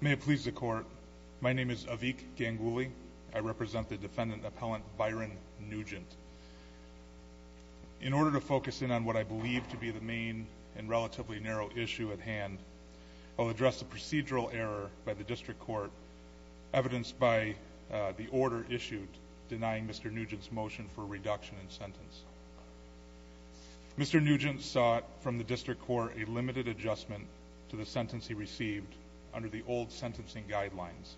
May it please the court. My name is Avik Ganguly. I represent the defendant appellant Byron Nugent. In order to focus in on what I believe to be the main and relatively narrow issue at hand, I'll address the procedural error by the district court evidenced by the order issued denying Mr. Nugent's motion for reduction in sentence. Mr. Nugent sought from the district court a limited adjustment to the sentence he received under the old sentencing guidelines.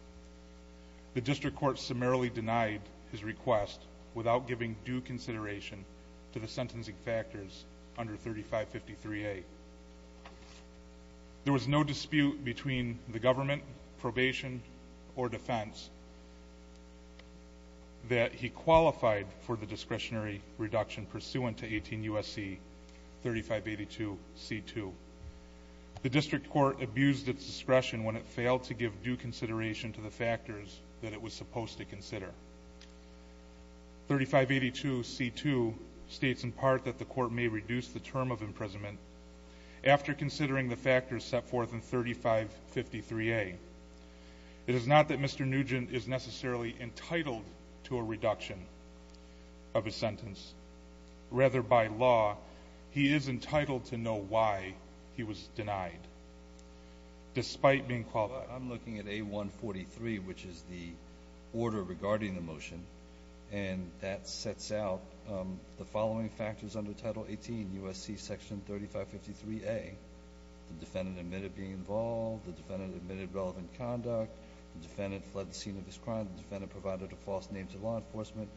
The district court summarily denied his request without giving due consideration to the sentencing factors under 3553A. There was no dispute between the government, probation, or defense that he qualified for the discretionary reduction pursuant to 18 U.S.C. 3582C2. The district court abused its discretion when it failed to give due consideration to the factors that it was supposed to consider. 3582C2 states in part that the court may reduce the term of imprisonment after considering the factors set forth in 3553A. It is not that Mr. Nugent is necessarily entitled to a reduction of his sentence. Rather, by law, he is entitled to know why he was denied despite being qualified. I'm looking at A143, which is the order regarding the motion, and that sets out the following factors under Title 18, U.S.C. section 3553A, the defendant admitted being involved, the defendant admitted relevant conduct, the defendant fled the scene of his crime, the defendant provided a false name to law enforcement,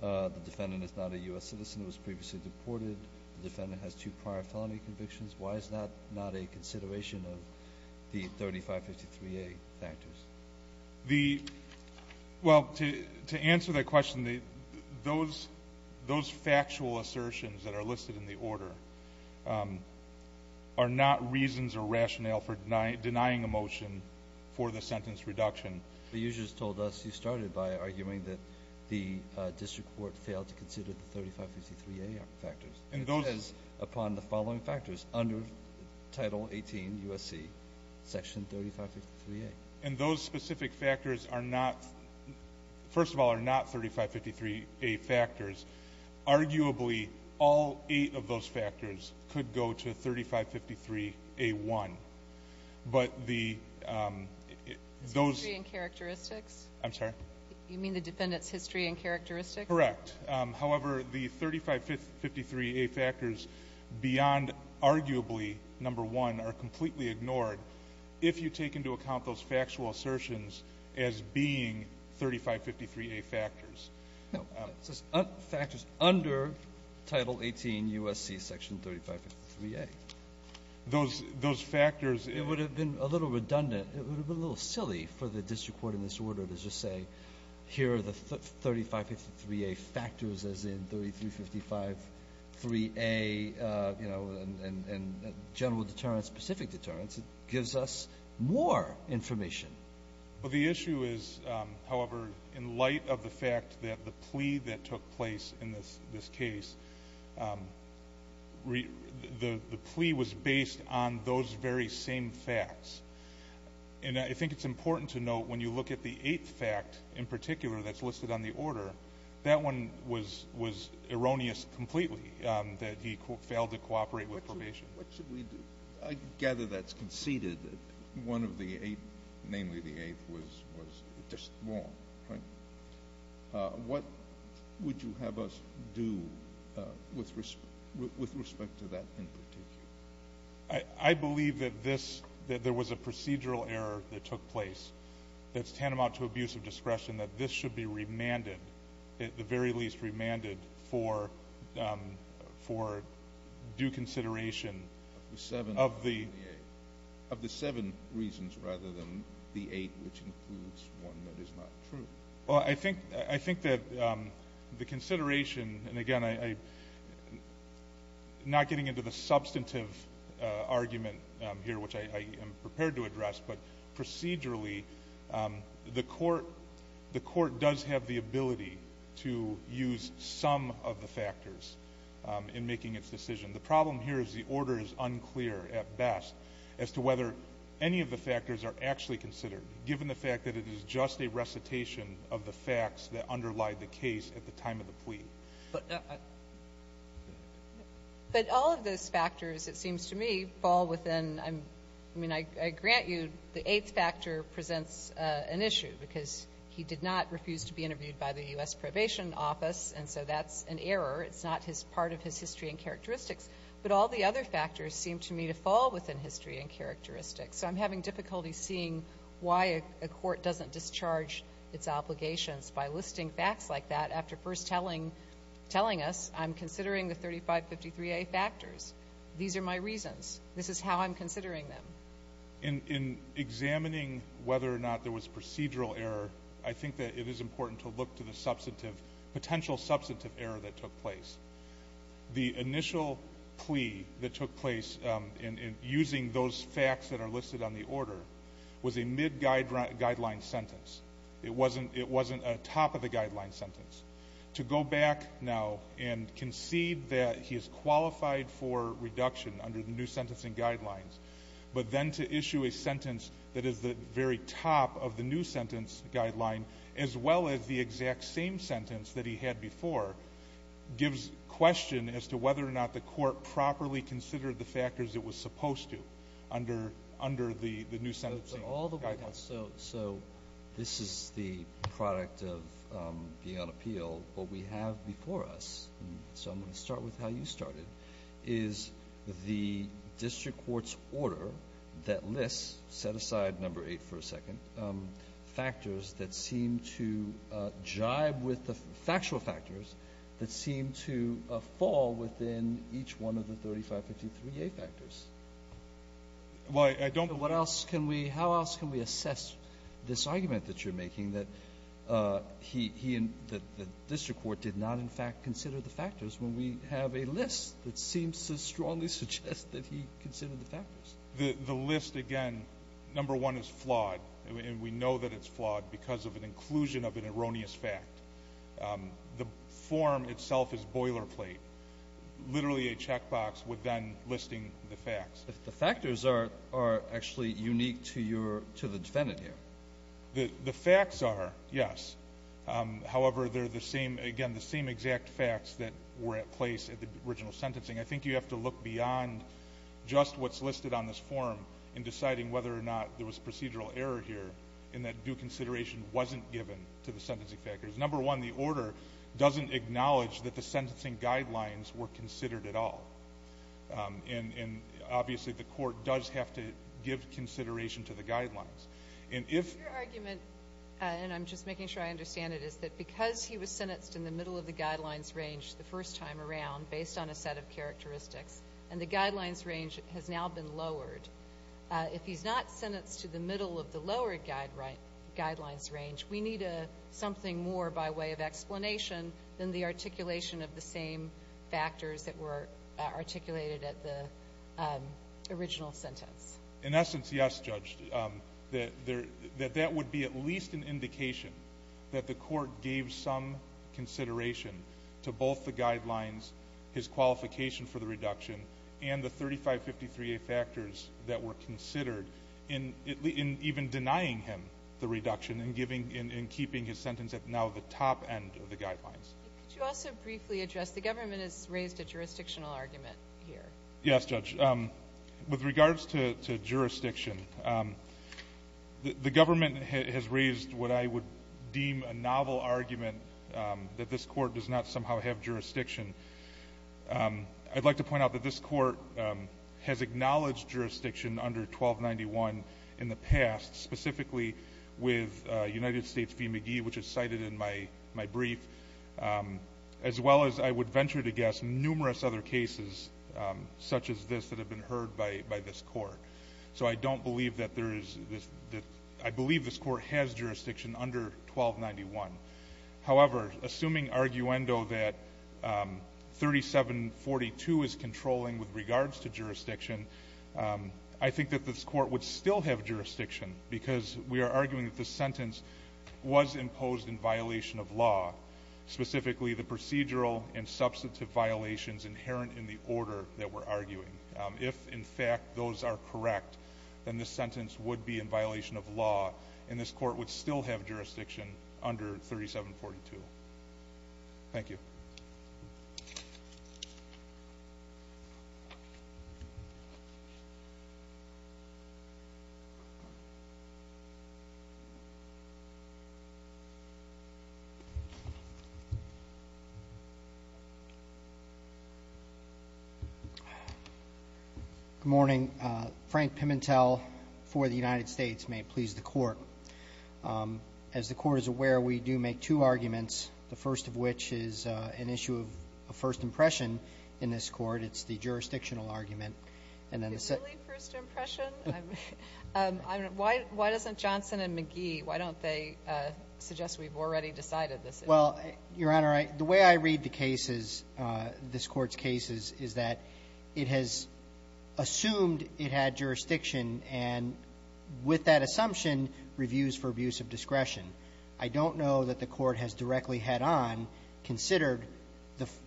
the defendant is not a U.S. citizen, was previously deported, the defendant has two prior felony convictions. Why is that not a consideration of the 3553A factors? The – well, to answer that question, those factual assertions that are listed in the The user has told us you started by arguing that the district court failed to consider the 3553A factors. It says upon the following factors under Title 18, U.S.C. section 3553A. And those specific factors are not – first of all, are not 3553A factors. Arguably, all eight of those factors could go to 3553A1. But the – those History and characteristics? I'm sorry? You mean the defendant's history and characteristics? Correct. However, the 3553A factors beyond, arguably, number one, are completely ignored if you take into account those factual assertions as being 3553A factors. No. It says factors under Title 18, U.S.C. section 3553A. Those – those factors It would have been a little redundant. It would have been a little silly for the district court in this order to just say, here are the 3553A factors, as in 3355 3A, you know, and general deterrence, specific deterrence. It gives us more information. Well, the issue is, however, in light of the fact that the plea that took place in this And I think it's important to note, when you look at the eighth fact in particular that's listed on the order, that one was – was erroneous completely, that he failed to cooperate with probation. What should – what should we do? I gather that's conceded that one of the eight, namely the eighth, was – was just wrong, right? What would you have us do with – with respect to that in particular? I believe that this – that there was a procedural error that took place that's tantamount to abuse of discretion, that this should be remanded, at the very least, remanded for – for due consideration of the Seven of the eight. Of the seven reasons rather than the eight which includes one that is not true. Well, I think – I think that the consideration – and again, I'm not getting into the substantive argument here, which I am prepared to address, but procedurally, the court – the court does have the ability to use some of the factors in making its decision. The problem here is the order is unclear at best as to whether any of the factors are actually considered given the fact that it is just a recitation of the facts that underlie the case at the time of the plea. But all of those factors, it seems to me, fall within – I mean, I grant you the eighth factor presents an issue because he did not refuse to be interviewed by the U.S. Probation Office, and so that's an error. It's not his – part of his history and characteristics. But all the other factors seem to me to fall within history and characteristics. So I'm having difficulty seeing why a court doesn't discharge its obligations by listing facts like that after first telling – telling us I'm considering the 3553A factors. These are my reasons. This is how I'm considering them. In examining whether or not there was procedural error, I think that it is important to look to the substantive – potential substantive error that took place. The initial plea that on the order was a mid-guideline sentence. It wasn't a top-of-the-guideline sentence. To go back now and concede that he is qualified for reduction under the new sentencing guidelines, but then to issue a sentence that is the very top of the new sentence guideline, as well as the exact same sentence that he had before, gives question as to whether or not the court properly considered the factors it was supposed to under – under the new sentencing guidelines. So this is the product of being on appeal. What we have before us – so I'm going to start with how you started – is the district court's order that lists – set aside number eight for a second – factors that seem to jibe with the – factual factors that seem to fall within each one of the 3553A factors. Well, I don't – What else can we – how else can we assess this argument that you're making, that he – he and – that the district court did not, in fact, consider the factors when we have a list that seems to strongly suggest that he considered the factors? The list, again, number one, is flawed. And we know that it's flawed because of an inclusion of an erroneous fact. The form itself is boilerplate, literally a checkbox with then listing the facts. The factors are – are actually unique to your – to the defendant here. The – the facts are, yes. However, they're the same – again, the same exact facts that were at place at the original sentencing. I think you have to look beyond just what's listed on this form in deciding whether or not there was procedural error here in that due consideration wasn't given to the sentencing factors. Number one, the order doesn't acknowledge that the sentencing guidelines were considered at all. And – and obviously, the court does have to give consideration to the guidelines. And if – Your argument, and I'm just making sure I understand it, is that because he was sentenced in the middle of the guidelines range the first time around, based on a set of characteristics, and the guidelines range has now been lowered, if he's not sentenced to the middle of the lower guide – guidelines range, we need a – something more by way of explanation than the articulation of the same factors that were articulated at the original sentence. In essence, yes, Judge, that there – that that would be at least an indication that the court gave some consideration to both the guidelines, his qualification for the reduction, and the 3553a factors that were considered in – in even denying him the reduction and giving – in keeping his sentence at now the top end of the guidelines. But could you also briefly address – the government has raised a jurisdictional argument here. Yes, Judge. With regards to – to jurisdiction, the government has raised what I would like to point out that this court has acknowledged jurisdiction under 1291 in the past, specifically with United States v. McGee, which is cited in my – my brief, as well as I would venture to guess numerous other cases such as this that have been heard by – by this court. So I don't believe that there is this – I believe this court has jurisdiction under 1291. However, assuming arguendo that 3742 is controlling with regards to jurisdiction, I think that this court would still have jurisdiction because we are arguing that this sentence was imposed in violation of law, specifically the procedural and substantive violations inherent in the order that we're arguing. If in fact those are correct, then this sentence would be in violation of law, and this court would still have jurisdiction under 3742. Thank you. Good morning. Frank Pimentel for the United States. May it please the Court. As the Court is aware, we do make two arguments, the first of which is an issue of first impression in this Court. It's the jurisdictional argument. And then the second – Really, first impression? I'm – I'm – why – why doesn't Johnson and McGee – why don't they suggest we've already decided this issue? Well, Your Honor, I – the way I read the cases, this Court's cases, is that it has assumed it had jurisdiction and, with that assumption, reviews for abuse of discretion. I don't know that the Court has directly head-on considered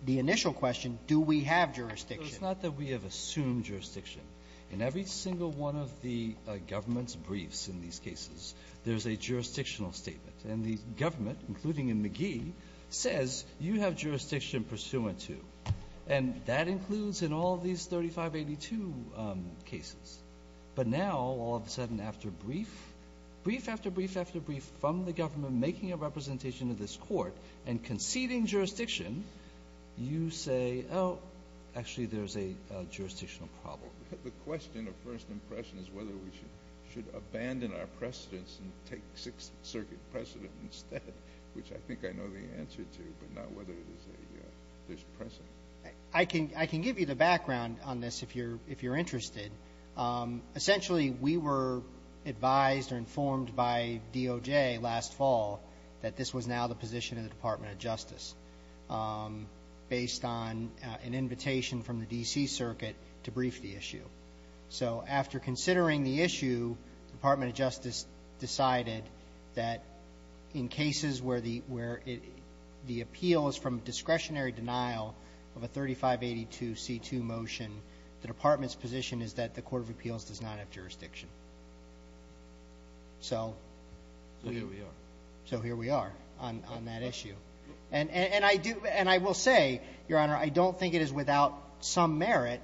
the initial question, do we have jurisdiction? It's not that we have assumed jurisdiction. In every single one of the government's briefs in these cases, there's a jurisdictional statement. And the government, including in McGee, says you have jurisdiction pursuant to. And that includes in all of these 3582 cases. But now, all of a sudden, after brief, brief after brief after brief from the government making a representation of this Court and conceding jurisdiction, you say, oh, actually, there's a jurisdictional problem. The question of first impression is whether we should – should abandon our precedents and take Sixth Circuit precedent instead, which I think I know the answer to, but I don't know whether it is a – there's precedent. I can – I can give you the background on this if you're – if you're interested. Essentially, we were advised or informed by DOJ last fall that this was now the position of the Department of Justice based on an invitation from the D.C. Circuit to brief the issue. So after considering the issue, the Department of Justice decided that in cases where the – where the appeal is from discretionary denial of a 3582c2 motion, the Department's position is that the court of appeals does not have jurisdiction. So we are. So here we are on that issue. And I do – and I will say, Your Honor, I don't think it is without some merit,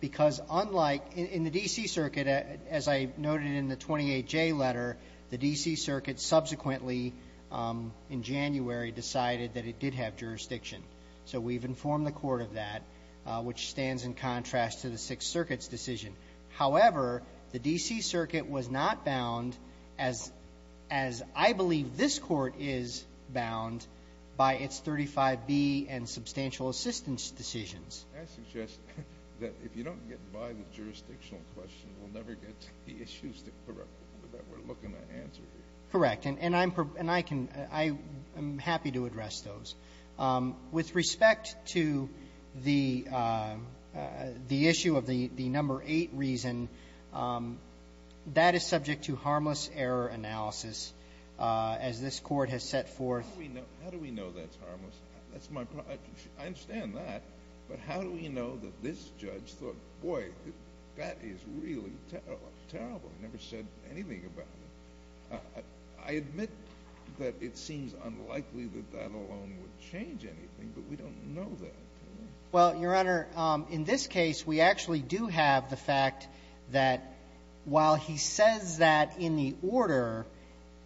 because unlike – in the D.C. Circuit, as I noted in the 28J letter, the D.C. Circuit subsequently in January decided that it did have jurisdiction. So we've informed the court of that, which stands in contrast to the Sixth Circuit's decision. However, the D.C. Circuit was not bound, as – as I believe this Court is bound, by its 35B and substantial assistance decisions. I suggest that if you don't get by the jurisdictional question, we'll never get to the issues that we're – that we're looking to answer here. Correct. And I'm – and I can – I am happy to address those. With respect to the – the issue of the number 8 reason, that is subject to harmless error analysis, as this Court has set forth. How do we know – how do we know that's harmless? That's my – I understand that. But how do we know that this judge thought, boy, that is really terrible, terrible. I've never said anything about it. I admit that it seems unlikely that that alone would change anything, but we don't know that. Well, Your Honor, in this case, we actually do have the fact that while he says that in the order,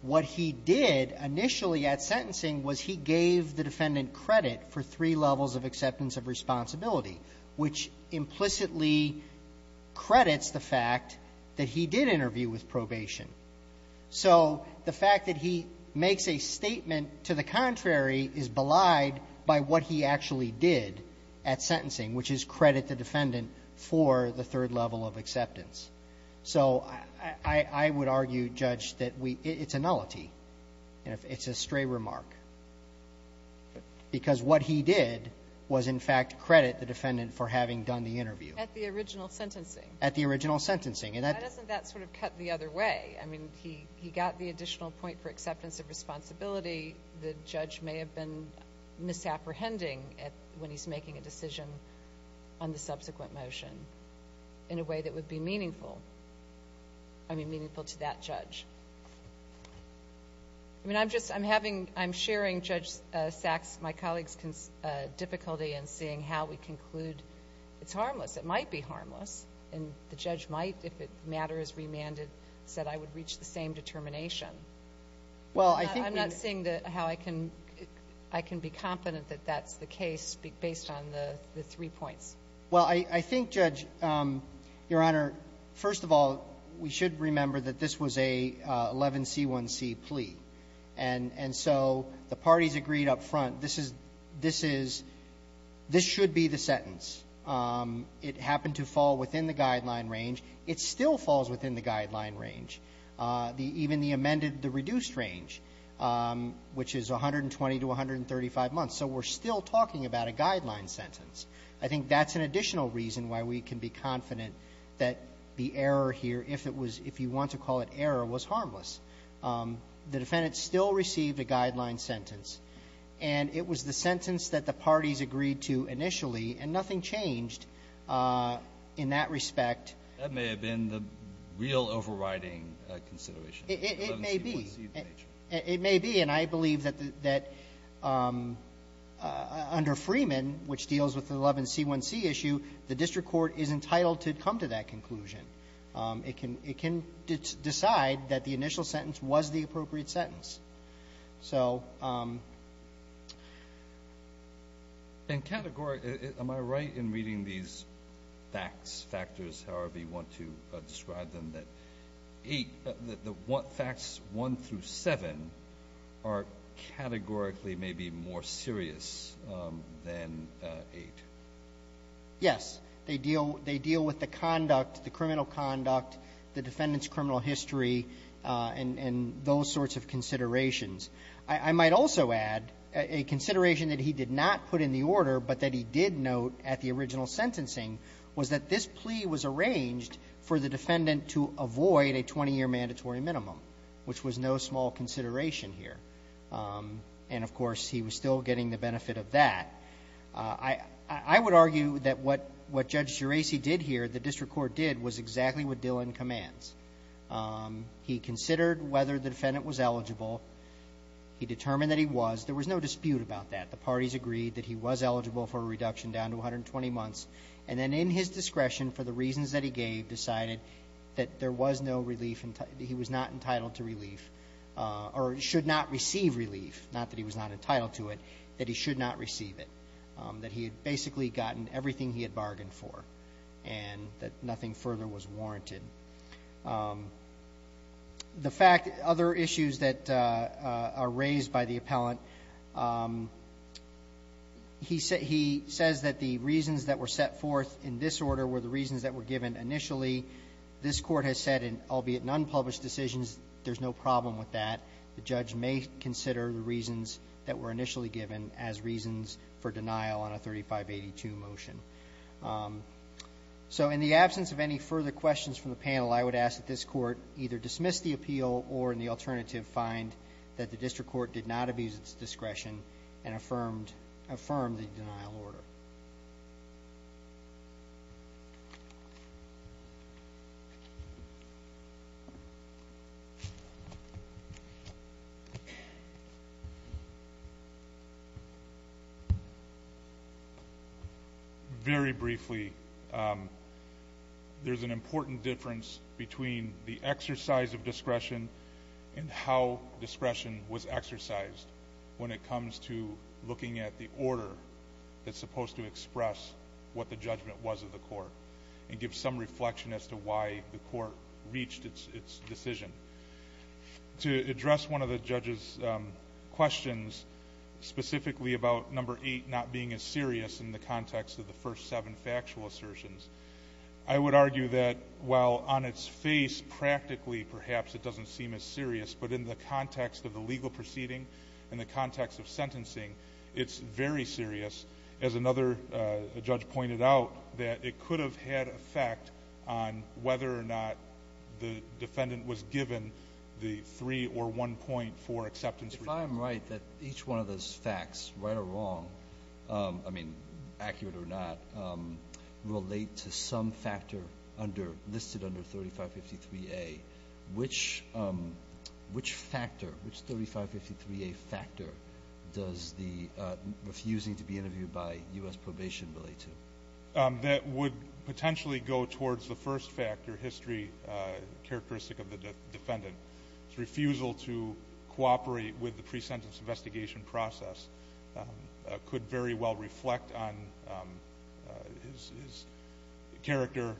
what he did initially at sentencing was he gave the defendant credit for three levels of acceptance of responsibility, which implicitly credits the fact that he did interview with probation. So the fact that he makes a statement to the contrary is belied by what he actually did at sentencing, which is credit the defendant for the third level of acceptance. So I would argue, Judge, that we – it's a nullity. It's a stray remark. Because what he did was, in fact, credit the defendant for having done the interview. At the original sentencing. At the original sentencing. And that – Why doesn't that sort of cut the other way? I mean, he got the additional point for acceptance of responsibility. The judge may have been misapprehending when he's making a decision on the subsequent motion in a way that would be meaningful – I mean, meaningful to that judge. I mean, I'm just – I'm having – I'm sharing, Judge Sachs, my colleague's difficulty in seeing how we conclude it's harmless. It might be harmless, and the judge might, if it matters, remanded, said, I would reach the same determination. Well, I think we – I'm not seeing how I can – I can be confident that that's the case based on the three points. Well, I think, Judge, Your Honor, first of all, we should remember that this was a 11C1C plea. And so the parties agreed up front, this is – this is – this should be the sentence It happened to fall within the guideline range. It still falls within the guideline range, even the amended – the reduced range, which is 120 to 135 months. So we're still talking about a guideline sentence. I think that's an additional reason why we can be confident that the error here, if it was – if you want to call it error, was harmless. The defendant still received a guideline sentence. And it was the sentence that the parties agreed to initially, and nothing changed in that respect. That may have been the real overriding consideration. It may be. It may be. And I believe that – that under Freeman, which deals with the 11C1C issue, the district court is entitled to come to that conclusion. It can – it can decide that the initial sentence was the appropriate sentence. So – And category – am I right in reading these facts, factors, however you want to describe them, that 8 – the facts 1 through 7 are categorically maybe more serious than 8? Yes. They deal – they deal with the conduct, the criminal conduct, the defendant's criminal history, and – and those sorts of considerations. I might also add a consideration that he did not put in the order, but that he did note at the original sentencing, was that this plea was arranged for the defendant to avoid a 20-year mandatory minimum, which was no small consideration here. And of course, he was still getting the benefit of that. I would argue that what – what Judge Geraci did here, the district court did, was exactly what Dillon commands. He considered whether the defendant was eligible. He determined that he was. There was no dispute about that. The parties agreed that he was eligible for a reduction down to 120 months. And then in his discretion, for the reasons that he gave, decided that there was no relief – that he was not entitled to relief – or should not receive relief, not that he was not entitled to it, that he should not receive it, that he had basically gotten everything he had bargained for, and that nothing further was warranted. The fact – other issues that are raised by the appellant, he said – he says that the reasons that were set forth in this order were the reasons that were given initially. This Court has said, albeit in unpublished decisions, there's no problem with that. The judge may consider the reasons that were initially given as reasons for denial on a 3582 motion. So in the absence of any further questions from the panel, I would ask that this Court either dismiss the appeal or, in the alternative, find that the district court did not abuse Very briefly, there's an important difference between the exercise of discretion and how discretion was exercised when it comes to looking at the order that's supposed to express what the judgment was of the Court and give some reflection as to why the Court reached its decision. To address one of the judge's questions, specifically about number eight not being as serious in the context of the first seven factual assertions, I would argue that while on its face, practically, perhaps, it doesn't seem as serious, but in the context of the legal proceeding and the context of sentencing, it's very serious. As another judge pointed out, that it could have had an effect on whether or not the defendant was given the three- or one-point-four acceptance reason. If I'm right, that each one of those facts, right or wrong, I mean, accurate or not, relate to some factor under 3553A, which factor, which 3553A factor does the refusing to be interviewed by U.S. probation relate to? That would potentially go towards the first factor, history, characteristic of the defendant. His refusal to cooperate with the pre-sentence investigation process could very well reflect on his character.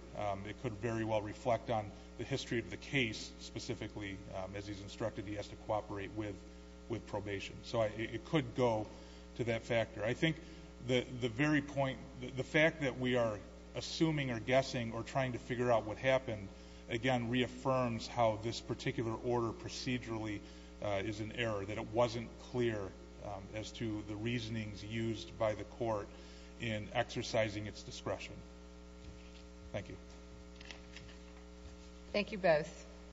It could very well reflect on the history of the case, specifically, as he's instructed he has to cooperate with probation. So it could go to that factor. I think the very point, the fact that we are assuming or guessing or trying to figure out what happened, again, reaffirms how this particular order procedurally is an error, that it wasn't clear as to the reasonings used by the court in exercising its discretion. Thank you. Thank you both.